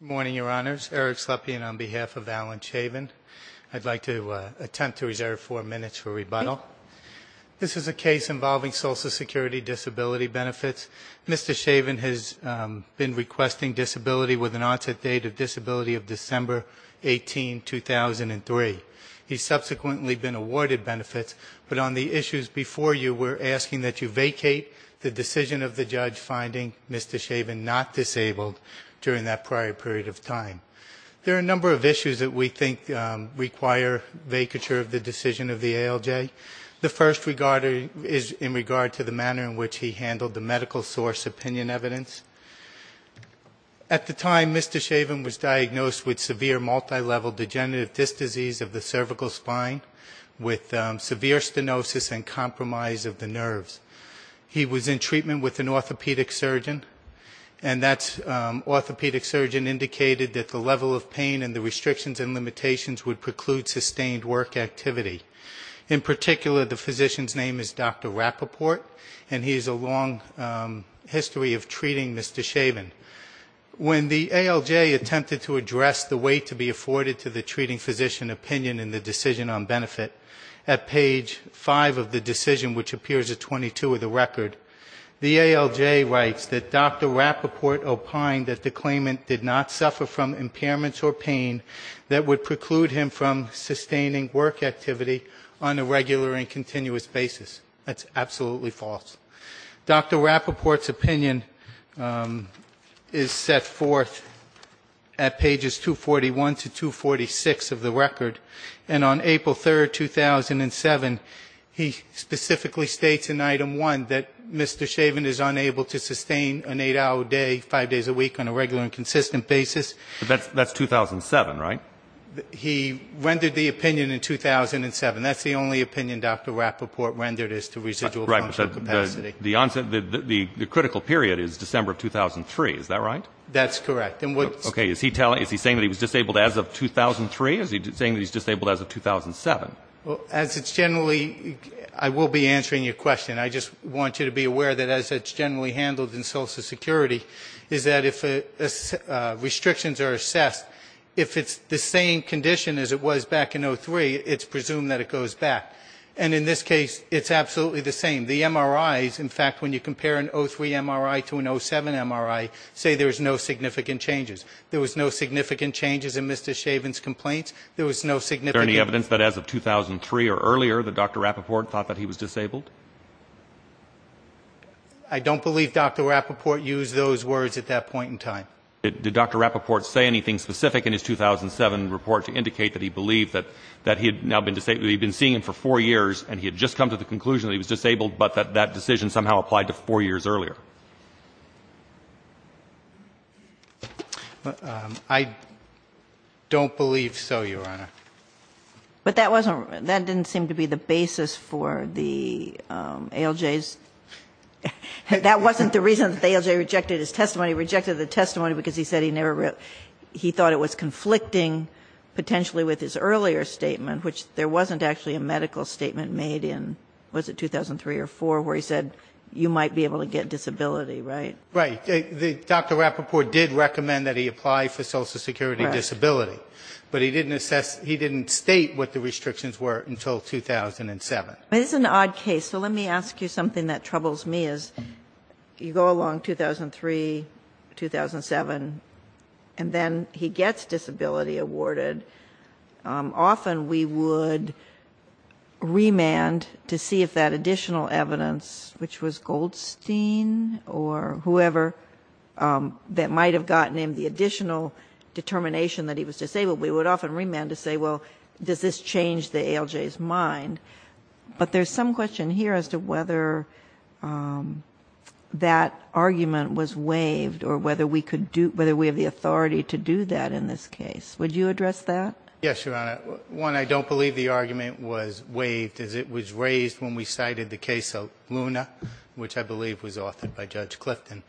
Good morning, Your Honors. Eric Slepian on behalf of Alan Chavin. I'd like to attempt to reserve four minutes for rebuttal. This is a case involving Social Security disability benefits. Mr. Chavin has been requesting disability with an onset date of disability of December 18, 2003. He's subsequently been awarded benefits, but on the issues before you, we're asking that you vacate the decision of the judge finding Mr. Chavin not disabled during that prior period of time. There are a number of issues that we think require vacature of the decision of the ALJ. The first is in regard to the manner in which he handled the medical source opinion evidence. At the time, Mr. Chavin was diagnosed with severe multilevel degenerative disc disease of the cervical spine with severe stenosis and compromise of the nerves. He was in treatment with an orthopedic surgeon, and that orthopedic surgeon indicated that the level of pain and the restrictions and limitations would preclude sustained work activity. In particular, the physician's name is Dr. Rappaport, and he has a long history of treating Mr. Chavin. When the ALJ attempted to address the way to be afforded to the treating physician opinion in the decision on benefit, at page five of the decision, which appears at 22 of the record, the ALJ writes that Dr. Rappaport opined that the claimant did not suffer from impairments or pain that would preclude him from sustaining work activity on a regular and continuous basis. That's absolutely false. Dr. Rappaport's opinion is set forth at pages 241 to 246 of the record, and on April 3rd, 2007, he specifically states in item one that Mr. Chavin is unable to sustain an eight-hour day, five days a week, on a regular and consistent basis. That's 2007, right? He rendered the opinion in 2007. That's the only opinion Dr. Rappaport rendered as to residual functional capacity. The critical period is December of 2003, is that right? That's correct. Is he saying that he was disabled as of 2003? Is he saying that he's disabled as of 2007? As it's generally, I will be answering your question. I just want you to be aware that as it's generally handled in Social Security, is that if restrictions are assessed, if it's the same condition as it was back in 2003, it's presumed that it goes back. And in this case, it's absolutely the same. The MRIs, in fact, when you compare an 2003 MRI to an 2007 MRI, say there's no significant changes. There was no significant changes in Mr. Chavin's complaints. There was no significant Is there any evidence that as of 2003 or earlier that Dr. Rappaport thought that he was disabled? I don't believe Dr. Rappaport used those words at that point in time. Did Dr. Rappaport say anything specific in his 2007 report to indicate that he believed that he had now been disabled? He'd been seeing him for four years, and he had just come to the conclusion that he was disabled, but that that decision somehow applied to four years earlier. I don't believe so, Your Honor. But that wasn't that didn't seem to be the basis for the ALJs. That wasn't the reason that the ALJ rejected his testimony. He rejected the testimony because he said he never he thought it was conflicting potentially with his earlier statement, which there wasn't actually a medical statement made in, was it 2003 or 2004, where he said you might be able to get disability, right? Right. Dr. Rappaport did recommend that he apply for Social Security disability. But he didn't assess he didn't state what the restrictions were until 2007. But it's an odd case. So let me ask you something that troubles me, is you go along 2003, 2007, and then he gets disability awarded. Often we would remand to see if that additional evidence, which was Goldstein or whoever, that might have gotten him the additional determination that he was disabled we would often remand to say, well, does this change the ALJ's mind? But there's some question here as to whether that argument was waived or whether we could do whether we have the authority to do that in this case. Would you address that? Yes, Your Honor. One, I don't believe the argument was waived, as it was raised when we cited the case of Luna, which I believe was authored by Judge Clifton.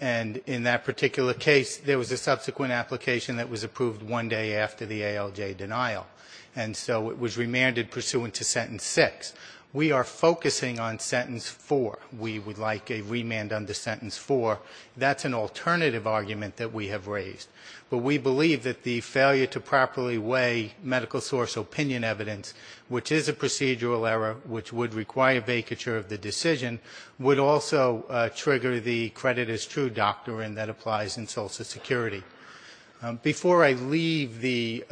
And in that particular case, there was a subsequent application that was approved one day after the ALJ denial. And so it was remanded pursuant to sentence six. We are focusing on sentence four. We would like a remand under sentence four. That's an alternative argument that we have raised. But we believe that the failure to properly weigh medical source opinion evidence, which is a procedural error, which would require vacature of the decision, would also trigger the credit as true doctrine that applies in Social Security. Before I leave the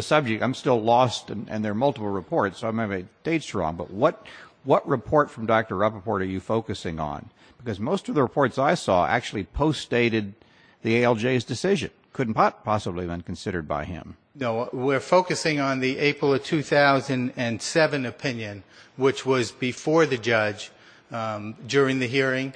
subject, I'm still lost and there are multiple reports, so I may have made dates wrong, but what report from Dr. Rappaport are you focusing on? Because most of the reports I saw actually post-stated the ALJ's decision. Couldn't possibly have been considered by him. No, we're focusing on the April of 2007 opinion, which was before the judge during the hearing.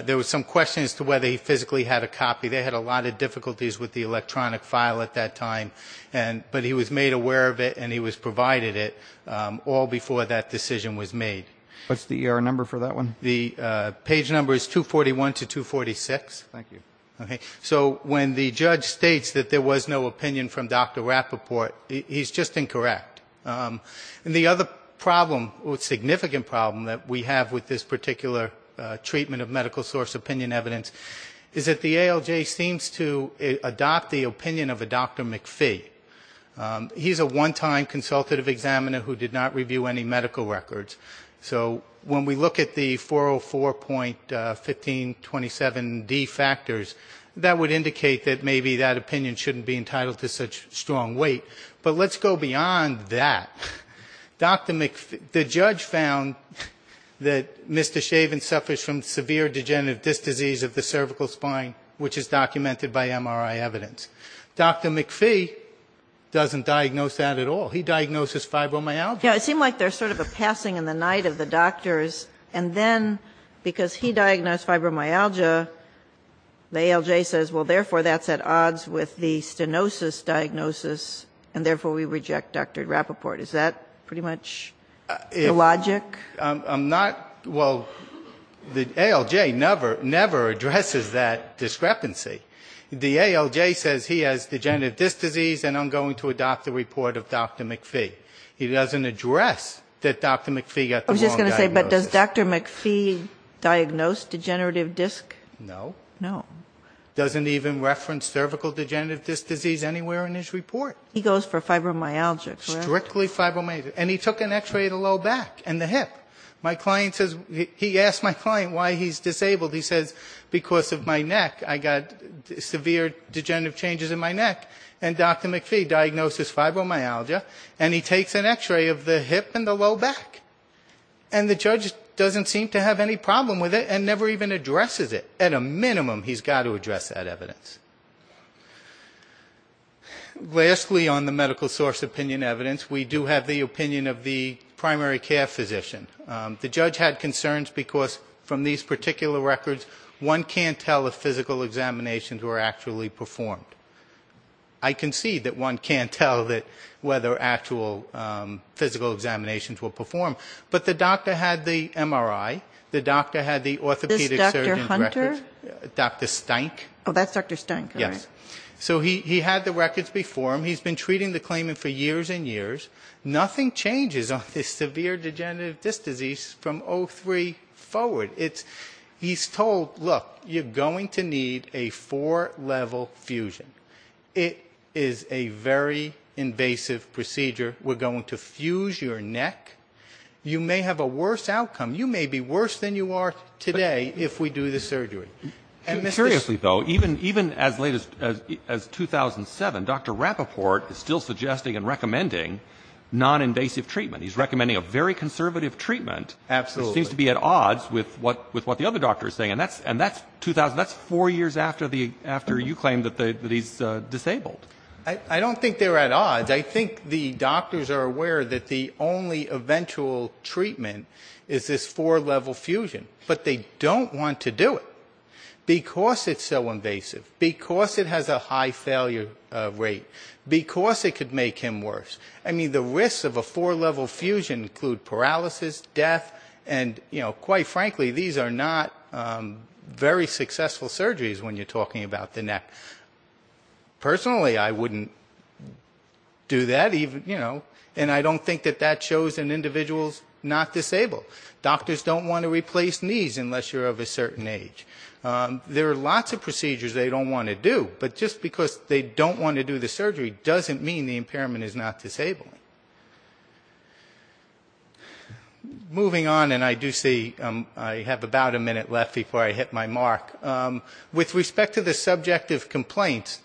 There was some question as to whether he physically had a copy. They had a lot of difficulties with the electronic file at that time. But he was made aware of it and he was provided it all before that decision was made. What's the ER number for that one? The page number is 241 to 246. Thank you. Okay. So when the judge states that there was no opinion from Dr. Rappaport, he's just incorrect. And the other problem, significant problem, that we have with this particular treatment of medical source opinion evidence is that the ALJ seems to adopt the opinion of a Dr. McPhee. He's a one-time consultative examiner who did not review any medical records. So when we look at the 404.1527D factors, that would indicate that maybe that opinion shouldn't be entitled to such strong weight. But let's go beyond that. Dr. McPhee, the judge found that Mr. Chavin suffers from severe degenerative disc disease of the cervical spine, which is documented by MRI evidence. Dr. McPhee doesn't diagnose that at all. He diagnoses fibromyalgia. Yeah, it seemed like there's sort of a passing in the night of the doctors. And then, because he diagnosed fibromyalgia, the ALJ says, well, therefore that's at odds with the stenosis diagnosis, and therefore we reject Dr. Rappaport. Is that pretty much the logic? I'm not, well, the ALJ never addresses that discrepancy. The ALJ says he has degenerative disc disease, and I'm going to adopt the report of Dr. McPhee. He doesn't address that Dr. McPhee got the wrong diagnosis. I was just going to say, but does Dr. McPhee diagnose degenerative disc? No. No. Doesn't even reference cervical degenerative disc disease anywhere in his report. He goes for fibromyalgia, correct? Strictly fibromyalgia. And he took an x-ray of the low back and the hip. My client says, he asked my client why he's disabled. He says, because of my neck, I got severe degenerative changes in my neck, and Dr. McPhee diagnoses fibromyalgia. And he takes an x-ray of the hip and the low back. And the judge doesn't seem to have any problem with it and never even addresses it. At a minimum, he's got to address that evidence. Lastly, on the medical source opinion evidence, we do have the opinion of the primary care physician. The judge had concerns because, from these particular records, one can't tell if physical examinations were actually performed. I can see that one can't tell whether actual physical examinations were performed. But the doctor had the MRI. The doctor had the orthopedic surgeon's records. This Dr. Hunter? Dr. Steink. Oh, that's Dr. Steink. Yes. So he had the records before him. He's been treating the claimant for years and years. Nothing changes on this severe degenerative disc disease from 03 forward. He's told, look, you're going to need a four-level fusion. It is a very invasive procedure. We're going to fuse your neck. You may have a worse outcome. You may be worse than you are today if we do the surgery. Seriously, though, even as late as 2007, Dr. Rapoport is still suggesting and recommending noninvasive treatment. He's recommending a very conservative treatment. Absolutely. Which seems to be at odds with what the other doctor is saying. And that's four years after you claimed that he's disabled. I don't think they're at odds. I think the doctors are aware that the only eventual treatment is this four-level fusion. But they don't want to do it because it's so invasive, because it has a high failure rate, because it could make him worse. I mean, the risks of a four-level fusion include paralysis, death, and, you know, quite frankly, these are not very successful surgeries when you're talking about the neck. Personally, I wouldn't do that. And I don't think that that shows an individual's not disabled. Doctors don't want to replace knees unless you're of a certain age. There are lots of procedures they don't want to do. But just because they don't want to do the surgery doesn't mean the impairment is not disabling. Moving on, and I do see I have about a minute left before I hit my mark. With respect to the subjective complaints,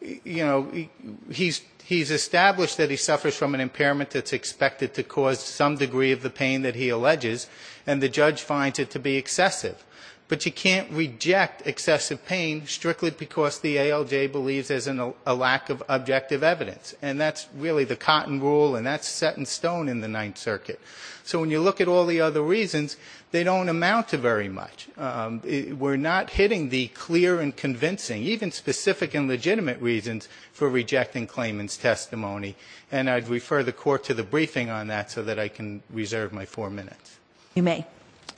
you know, he's established that he suffers from an impairment that's expected to cause some degree of the pain that he alleges, and the judge finds it to be excessive. But you can't reject excessive pain strictly because the ALJ believes there's a lack of objective evidence. And that's really the cotton rule, and that's set in stone in the Ninth Circuit. So when you look at all the other reasons, they don't amount to very much. We're not hitting the clear and convincing, even specific and legitimate reasons, for rejecting claimant's testimony. And I'd refer the Court to the briefing on that so that I can reserve my four minutes. If you may.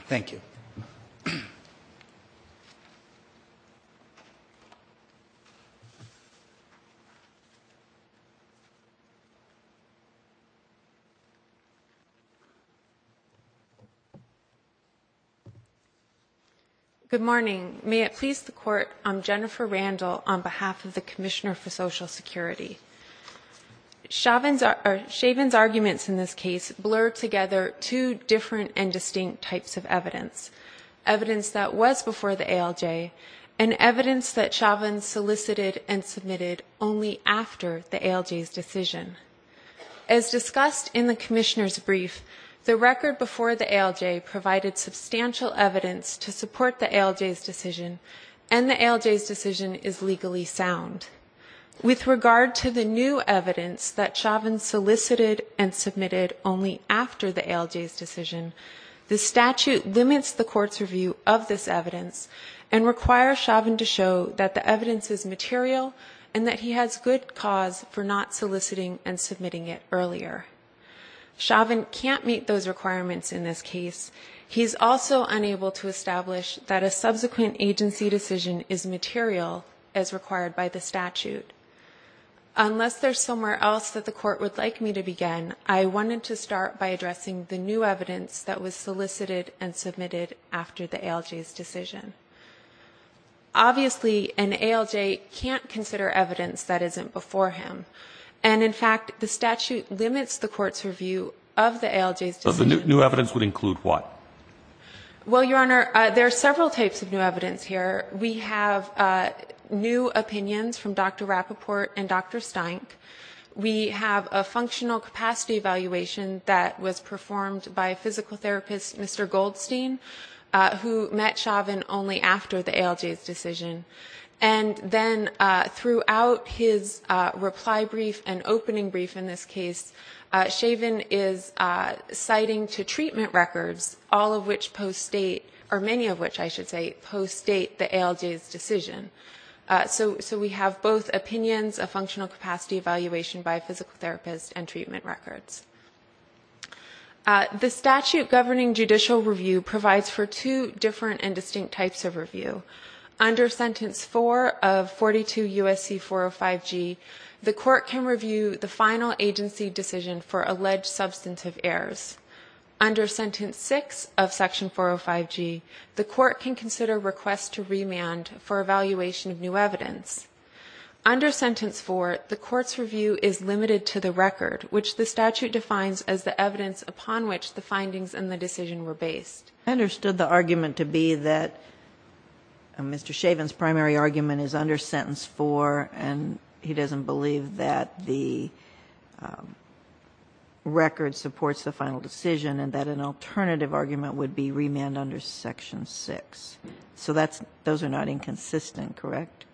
Thank you. Good morning. May it please the Court, I'm Jennifer Randall on behalf of the Commissioner for Social Security. Chauvin's arguments in this case blur together two different and distinct types of evidence. Evidence that was before the ALJ, and evidence that Chauvin solicited and submitted only after the ALJ's decision. As discussed in the Commissioner's brief, the record before the ALJ provided substantial evidence to support the ALJ's decision, and the ALJ's decision is legally sound. With regard to the new evidence that Chauvin solicited and submitted only after the ALJ's decision, the statute limits the Court's review of this evidence and requires Chauvin to show that the evidence is material and that he has good cause for not soliciting and submitting it earlier. Chauvin can't meet those requirements in this case. He's also unable to establish that a subsequent agency decision is material as required by the statute. Unless there's somewhere else that the Court would like me to begin, I wanted to start by addressing the new evidence that was solicited and submitted after the ALJ's decision. Obviously, an ALJ can't consider evidence that isn't before him. And in fact, the statute limits the Court's review of the ALJ's decision. But the new evidence would include what? Well, Your Honor, there are several types of new evidence here. We have new opinions from Dr. Rapoport and Dr. Steinck. We have a functional capacity evaluation that was performed by a physical therapist, Mr. Goldstein, who met Chauvin only after the ALJ's decision. And then throughout his reply brief and opening brief in this case, Chauvin is citing to treatment records, all of which post-state, or many of which, I should say, post-state the ALJ's decision. So we have both opinions, a functional capacity evaluation by a physical therapist, and treatment records. The statute governing judicial review provides for two different and distinct types of review. Under Sentence 4 of 42 U.S.C. 405G, the Court can review the final agency decision for alleged substantive errors. Under Sentence 6 of Section 405G, the Court can consider requests to remand for evaluation of new evidence. Under Sentence 4, the Court's review is limited to the record, which the statute defines as the evidence upon which the findings in the decision were based. I understood the argument to be that Mr. Chauvin's primary argument is under Sentence 4 and he doesn't believe that the record supports the final decision and that an alternative argument would be remand under Section 6. So that's those are not inconsistent, correct?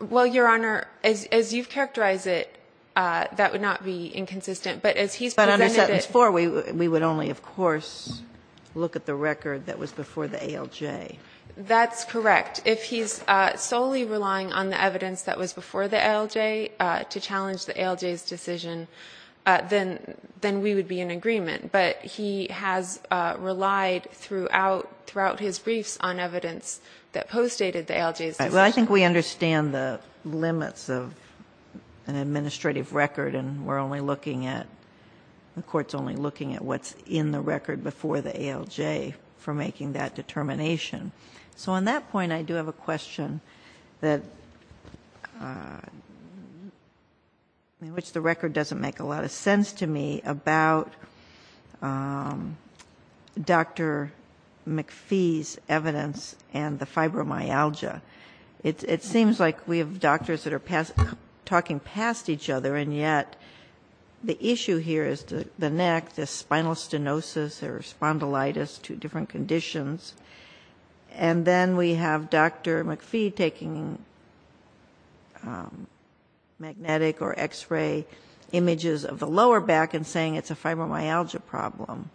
Well, Your Honor, as you've characterized it, that would not be inconsistent, but as he's presented it. Therefore, we would only, of course, look at the record that was before the ALJ. That's correct. If he's solely relying on the evidence that was before the ALJ to challenge the ALJ's decision, then we would be in agreement. But he has relied throughout his briefs on evidence that postdated the ALJ's decision. Well, I think we understand the limits of an administrative record, and we're only looking at what's in the record before the ALJ for making that determination. So on that point, I do have a question that in which the record doesn't make a lot of sense to me about Dr. McPhee's evidence and the fibromyalgia. It seems like we have doctors that are talking past each other, and yet the issue here is the neck, the spinal stenosis or spondylitis, two different conditions. And then we have Dr. McPhee taking magnetic or X-ray images of the lower back and saying it's a fibromyalgia problem.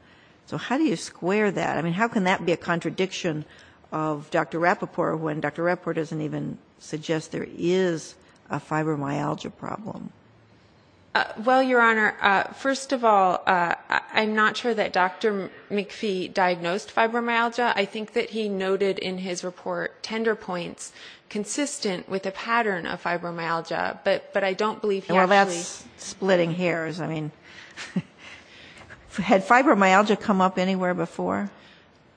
So how do you square that? I mean, how can that be a contradiction of Dr. Rapoport when Dr. Rapoport doesn't even suggest there is a fibromyalgia problem? Well, Your Honor, first of all, I'm not sure that Dr. McPhee diagnosed fibromyalgia. I think that he noted in his report tender points consistent with a pattern of fibromyalgia, but I don't believe he actually ---- Well, that's splitting hairs. I mean, had fibromyalgia come up anywhere before?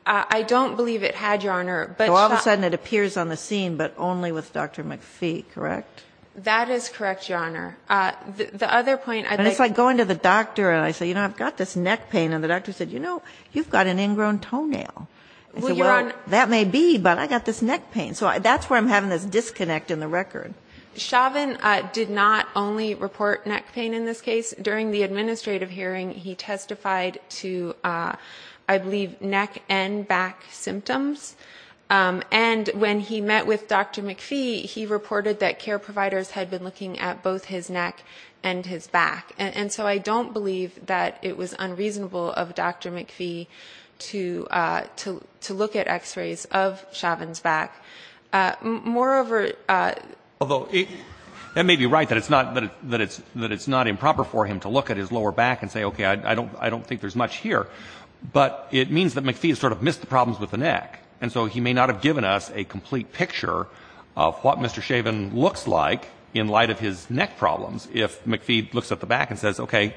I don't believe it had, Your Honor, but ---- So all of a sudden it appears on the scene, but only with Dr. McPhee, correct? That is correct, Your Honor. The other point ---- And it's like going to the doctor and I say, you know, I've got this neck pain, and the doctor said, you know, you've got an ingrown toenail. I said, well, that may be, but I've got this neck pain. So that's where I'm having this disconnect in the record. Chauvin did not only report neck pain in this case. During the administrative hearing, he testified to, I believe, neck and back symptoms. And when he met with Dr. McPhee, he reported that care providers had been looking at both his neck and his back. And so I don't believe that it was unreasonable of Dr. McPhee to look at X-rays of Chauvin's back. Moreover ---- Although it may be right that it's not improper for him to look at his lower back and say, okay, I don't think there's much here. But it means that McPhee has sort of missed the problems with the neck. And so he may not have given us a complete picture of what Mr. Chauvin looks like in light of his neck problems if McPhee looks at the back and says, okay,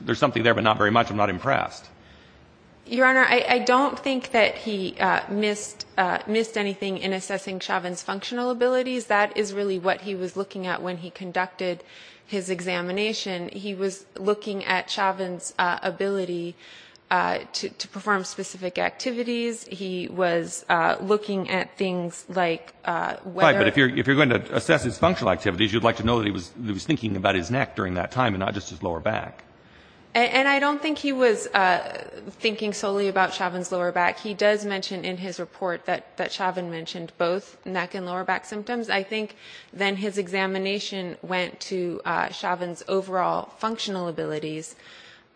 there's something there, but not very much. I'm not impressed. Your Honor, I don't think that he missed anything in assessing Chauvin's functional abilities. That is really what he was looking at when he conducted his examination. He was looking at Chauvin's ability to perform specific activities. He was looking at things like whether ---- Right, but if you're going to assess his functional activities, you'd like to know that he was thinking about his neck during that time and not just his lower back. And I don't think he was thinking solely about Chauvin's lower back. He does mention in his report that Chauvin mentioned both neck and lower back symptoms. I think then his examination went to Chauvin's overall functional abilities.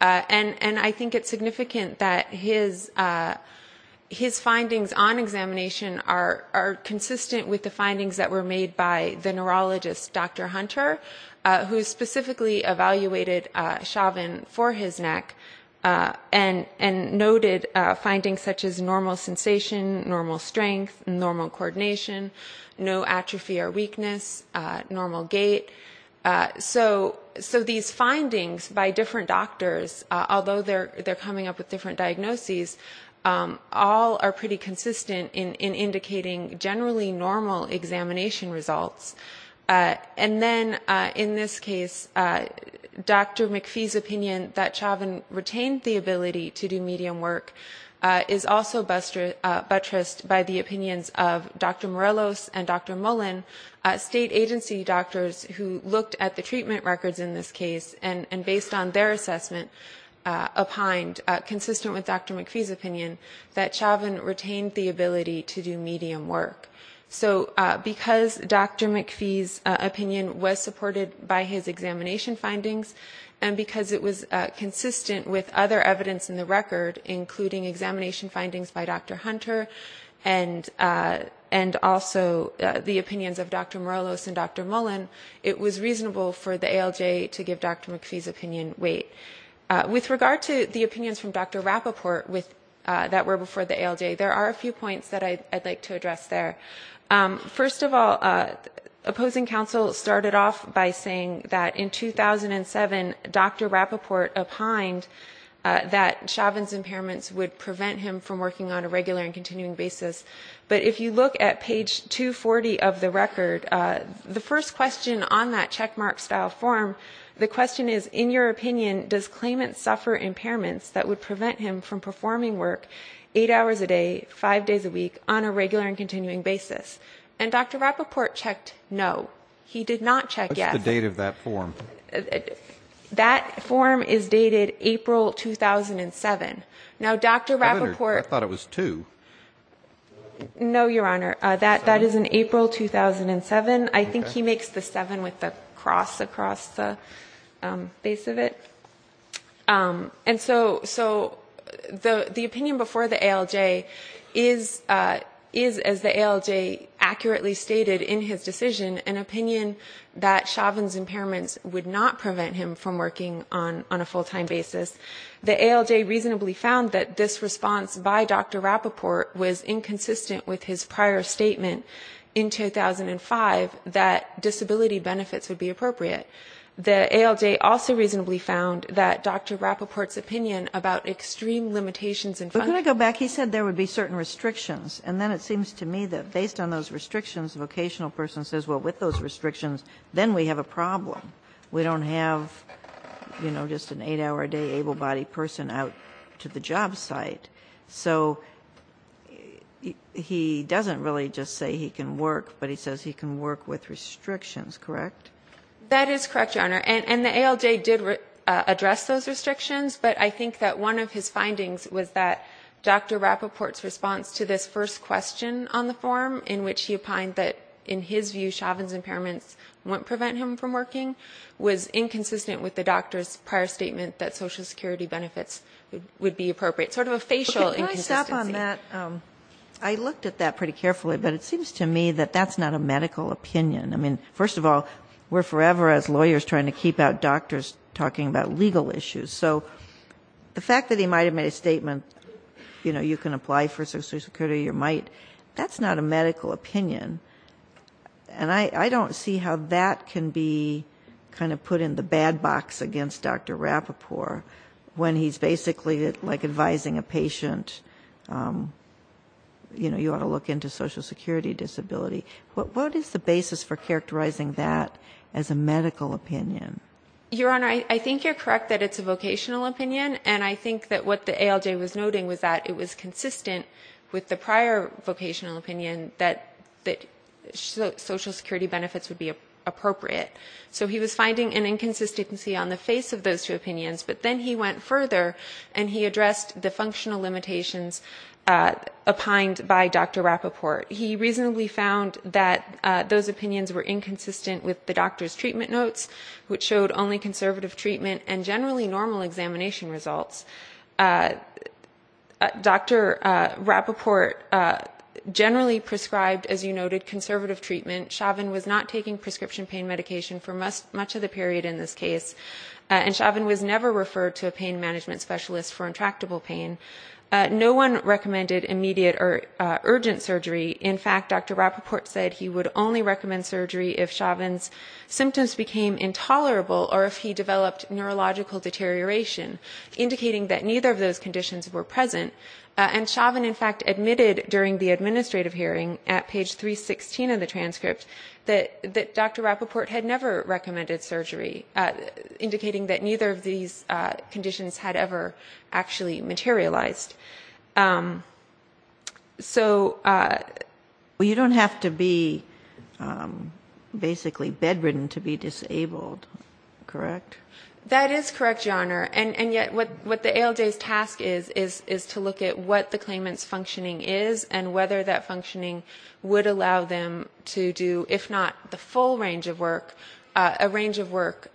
And I think it's significant that his findings on examination are consistent with the findings that were made by the neurologist, Dr. Hunter, who specifically evaluated Chauvin for his neck and noted findings such as normal sensation, normal strength, normal coordination, no atrophy or weakness, normal gait. So these findings by different doctors, although they're coming up with different diagnoses, all are pretty consistent in indicating generally normal examination results. And then in this case, Dr. McPhee's opinion that Chauvin retained the ability to do medium work is also buttressed by the opinions of Dr. Morelos and Dr. Mullen, state agency doctors who looked at the treatment records in this case and based on their assessment, opined consistent with Dr. McPhee's opinion that Chauvin retained the ability to do medium work. So because Dr. McPhee's opinion was supported by his examination findings and because it was consistent with other evidence in the record, including examination findings by Dr. Hunter and also the opinions of Dr. Morelos and Dr. Mullen, it was reasonable for the ALJ to give Dr. McPhee's opinion weight. With regard to the opinions from Dr. Rapoport that were before the ALJ, there are a few points that I'd like to address there. First of all, opposing counsel started off by saying that in 2007, Dr. Rapoport opined that Chauvin's impairments would prevent him from working on a regular and continuing basis. But if you look at page 240 of the record, the first question on that checkmark style form, the question is, in your opinion, does claimant suffer impairments that would prevent him from performing work eight hours a day, five days a week, on a regular and continuing basis? And Dr. Rapoport checked no. He did not check yes. What's the date of that form? That form is dated April 2007. Now, Dr. Rapoport... Governor, I thought it was two. No, Your Honor. That is in April 2007. I think he makes the seven with the cross across the base of it. And so the opinion before the ALJ is, as the ALJ accurately stated in his decision, an opinion that Chauvin's impairments would not prevent him from working on a full-time basis. The ALJ reasonably found that this response by Dr. Rapoport was inconsistent with his prior statement in 2005, that disability benefits would be appropriate. The ALJ also reasonably found that Dr. Rapoport's opinion about extreme limitations in funding... But can I go back? He said there would be certain restrictions, and then it seems to me that based on those restrictions, the vocational person says, well, with those restrictions, then we have a problem. We don't have, you know, just an eight-hour-a-day able-bodied person out to the job site. So he doesn't really just say he can work, but he says he can work with restrictions, correct? That is correct, Your Honor. And the ALJ did address those restrictions, but I think that one of his findings was that Dr. Rapoport's response to this first question on the form, in which he opined that, in his view, Chauvin's impairments wouldn't prevent him from working, was inconsistent with the doctor's prior statement that Social Security benefits would be appropriate. Sort of a facial inconsistency. Can I stop on that? I looked at that pretty carefully, but it seems to me that that's not a medical opinion. I mean, first of all, we're forever, as lawyers, trying to keep out doctors talking about legal issues. So the fact that he might have made a statement, you know, you can apply for Social Security or you might, that's not a medical opinion. And I don't see how that can be kind of put in the bad box against Dr. Rapoport when he's basically, like, advising a patient, you know, you ought to look into Social Security disability. What is the basis for characterizing that as a medical opinion? Your Honor, I think you're correct that it's a vocational opinion, and I think that what the ALJ was noting was that it was consistent with the prior vocational opinion that Social Security benefits would be appropriate. So he was finding an inconsistency on the face of those two opinions, but then he went further and he addressed the functional limitations opined by Dr. Rapoport. He reasonably found that those opinions were inconsistent with the doctor's treatment notes, which showed only conservative treatment and generally normal examination results. Dr. Rapoport generally prescribed, as you noted, conservative treatment. Chauvin was not taking prescription pain medication for much of the period in this case, and Chauvin was never referred to a pain management specialist for intractable pain. No one recommended immediate or urgent surgery. In fact, Dr. Rapoport said he would only recommend surgery if Chauvin's symptoms became intolerable or if he developed neurological deterioration, indicating that neither of those conditions were present. And Chauvin, in fact, admitted during the administrative hearing at page 316 of the transcript that Dr. Rapoport had never recommended surgery, indicating that neither of these conditions had ever actually materialized. So you don't have to be basically bedridden to be disabled. Correct? That is correct, Your Honor, and yet what the ALJ's task is is to look at what the claimant's functioning is and whether that functioning would allow them to do, if not the full range of work, a range of work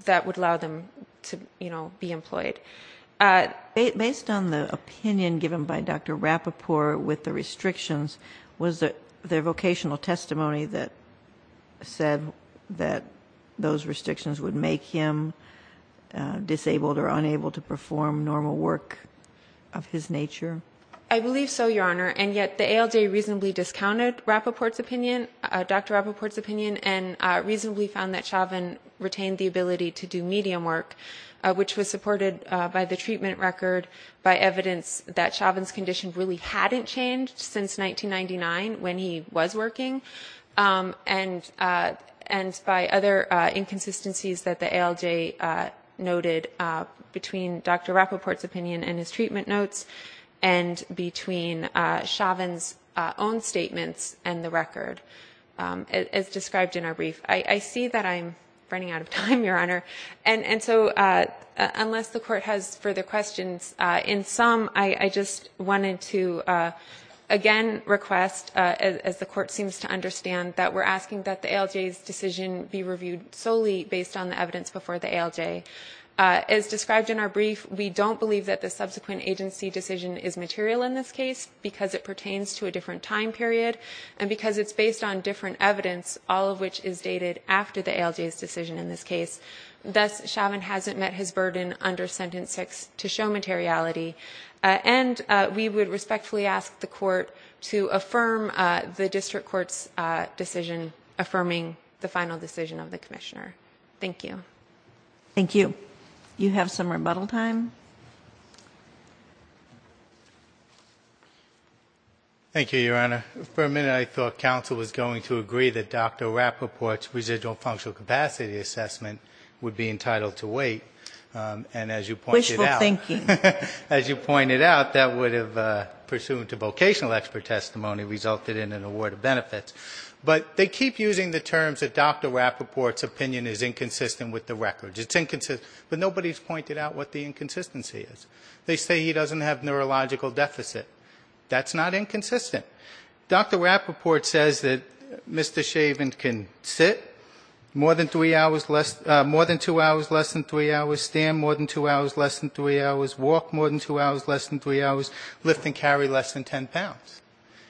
that would allow them to, you know, be employed. Based on the opinion given by Dr. Rapoport with the restrictions, was there vocational testimony that said that those restrictions would make him disabled or unable to perform normal work of his nature? I believe so, Your Honor, and yet the ALJ reasonably discounted Dr. Rapoport's opinion and reasonably found that Chauvin retained the ability to do medium work, which was supported by the treatment record, by evidence that Chauvin's condition really hadn't changed since 1999 when he was working, and by other inconsistencies that the ALJ noted between Dr. Rapoport's opinion and his treatment notes and between Chauvin's own statements and the record as described in our brief. I see that I'm running out of time, Your Honor, and so unless the Court has further questions, in sum, I just wanted to again request, as the Court seems to understand, that we're asking that the ALJ's decision be reviewed solely based on the evidence before the ALJ. As described in our brief, we don't believe that the subsequent agency decision is material in this case because it pertains to a different time period and because it's based on different evidence, all of which is dated after the ALJ's decision in this case. Thus, Chauvin hasn't met his burden under Sentence 6 to show materiality, and we would respectfully ask the Court to affirm the District Court's decision affirming the final decision of the Commissioner. Thank you. Thank you. You have some rebuttal time. Thank you, Your Honor. For a minute, I thought counsel was going to agree that Dr. Rapoport's residual functional capacity assessment would be entitled to wait, and as you pointed out... Wishful thinking. As you pointed out, that would have, pursuant to vocational expert testimony, resulted in an award of benefits. But they keep using the terms that Dr. Rapoport's opinion is inconsistent with the records. It's inconsistent, but nobody's pointed out what the inconsistency is. They say he doesn't have neurological deficit. That's not inconsistent. Dr. Rapoport says that Mr. Chauvin can sit more than two hours, less than three hours, stand more than two hours, less than three hours, walk more than two hours, less than three hours, lift and carry less than 10 pounds.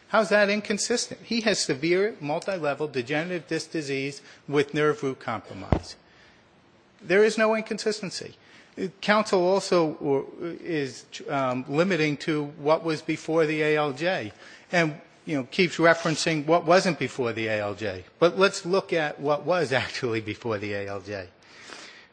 How is that inconsistent? He has severe multilevel degenerative disc disease with nerve root compromise. There is no inconsistency. Counsel also is limiting to what was before the ALJ, and keeps referencing what wasn't before the ALJ. But let's look at what was actually before the ALJ.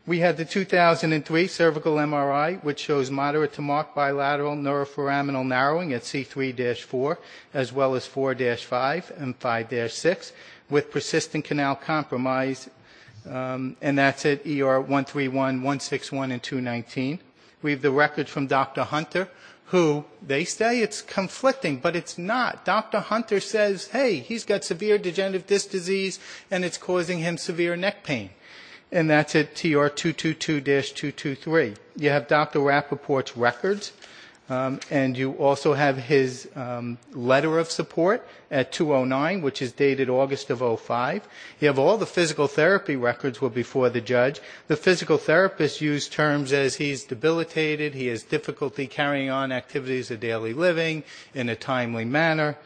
We had the 2003 cervical MRI, which shows moderate to marked bilateral neuroforaminal narrowing at C3-4, as well as 4-5 and 5-6, with persistent canal compromise. And that's at ER 131, 161 and 219. We have the records from Dr. Hunter, who they say it's conflicting, but it's not. Dr. Hunter says, hey, he's got severe degenerative disc disease, and it's causing him severe neck pain. And that's at TR 222-223. You have Dr. Rapoport's records, and you also have his letter of support at 209, which is dated August of 2005. You have all the physical therapy records were before the judge. The physical therapists use terms as he's debilitated, he has difficulty carrying on activities of daily living in a timely manner.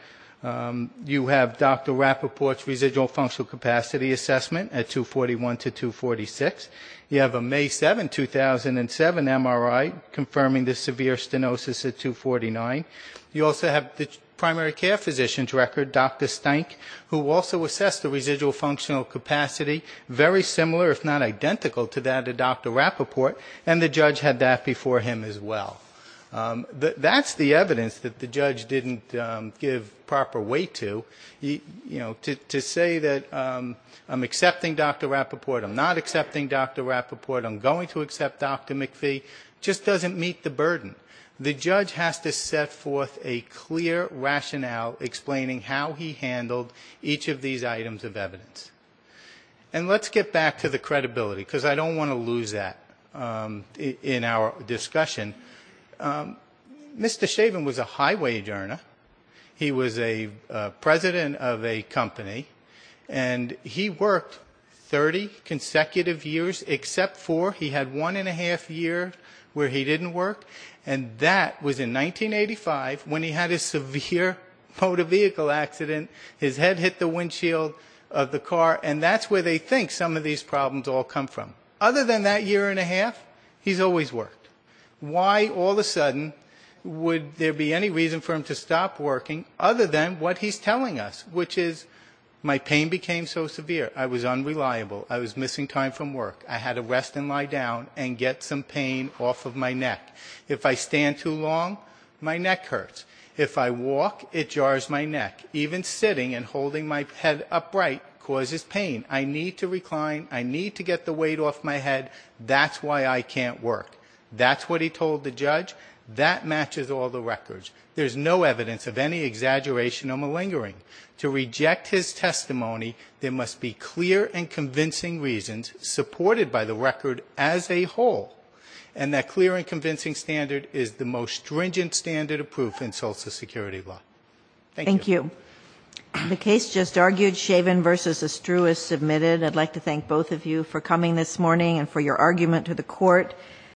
You have Dr. Rapoport's residual functional capacity assessment at 241-246. You have a May 7, 2007, MRI confirming the severe stenosis at 249. You also have the primary care physician's record, Dr. Steink, who also assessed the residual functional capacity, very similar, if not identical, to that of Dr. Rapoport, and the judge had that before him as well. That's the evidence that the judge didn't give proper weight to. You know, to say that I'm accepting Dr. Rapoport, I'm not accepting Dr. Rapoport, I'm going to accept Dr. McPhee, just doesn't meet the burden. The judge has to set forth a clear rationale explaining how he handled each of these items of evidence. And let's get back to the credibility, because I don't want to lose that in our discussion. Mr. Shaven was a highway adjourner, he was a president of a company, and he worked 30 consecutive years except for he had one and a half year where he didn't work, and that was in 1985 when he had a severe motor vehicle accident, his head hit the windshield of the car, and that's where they think some of these problems all come from. Other than that year and a half, he's always worked. Why all of a sudden would there be any reason for him to stop working other than what he's telling us, which is my pain became so severe, I was unreliable, I was missing time from work, I had to rest and lie down and get some pain off of my neck. If I stand too long, my neck hurts. If I walk, it jars my neck, even sitting and holding my head upright causes pain. I need to recline, I need to get the weight off my head, that's why I can't work. That's what he told the judge, that matches all the records. There's no evidence of any exaggeration or malingering. To reject his testimony, there must be clear and convincing reasons supported by the record as a whole, and that clear and convincing standard is the most stringent standard of proof in social security law. Thank you.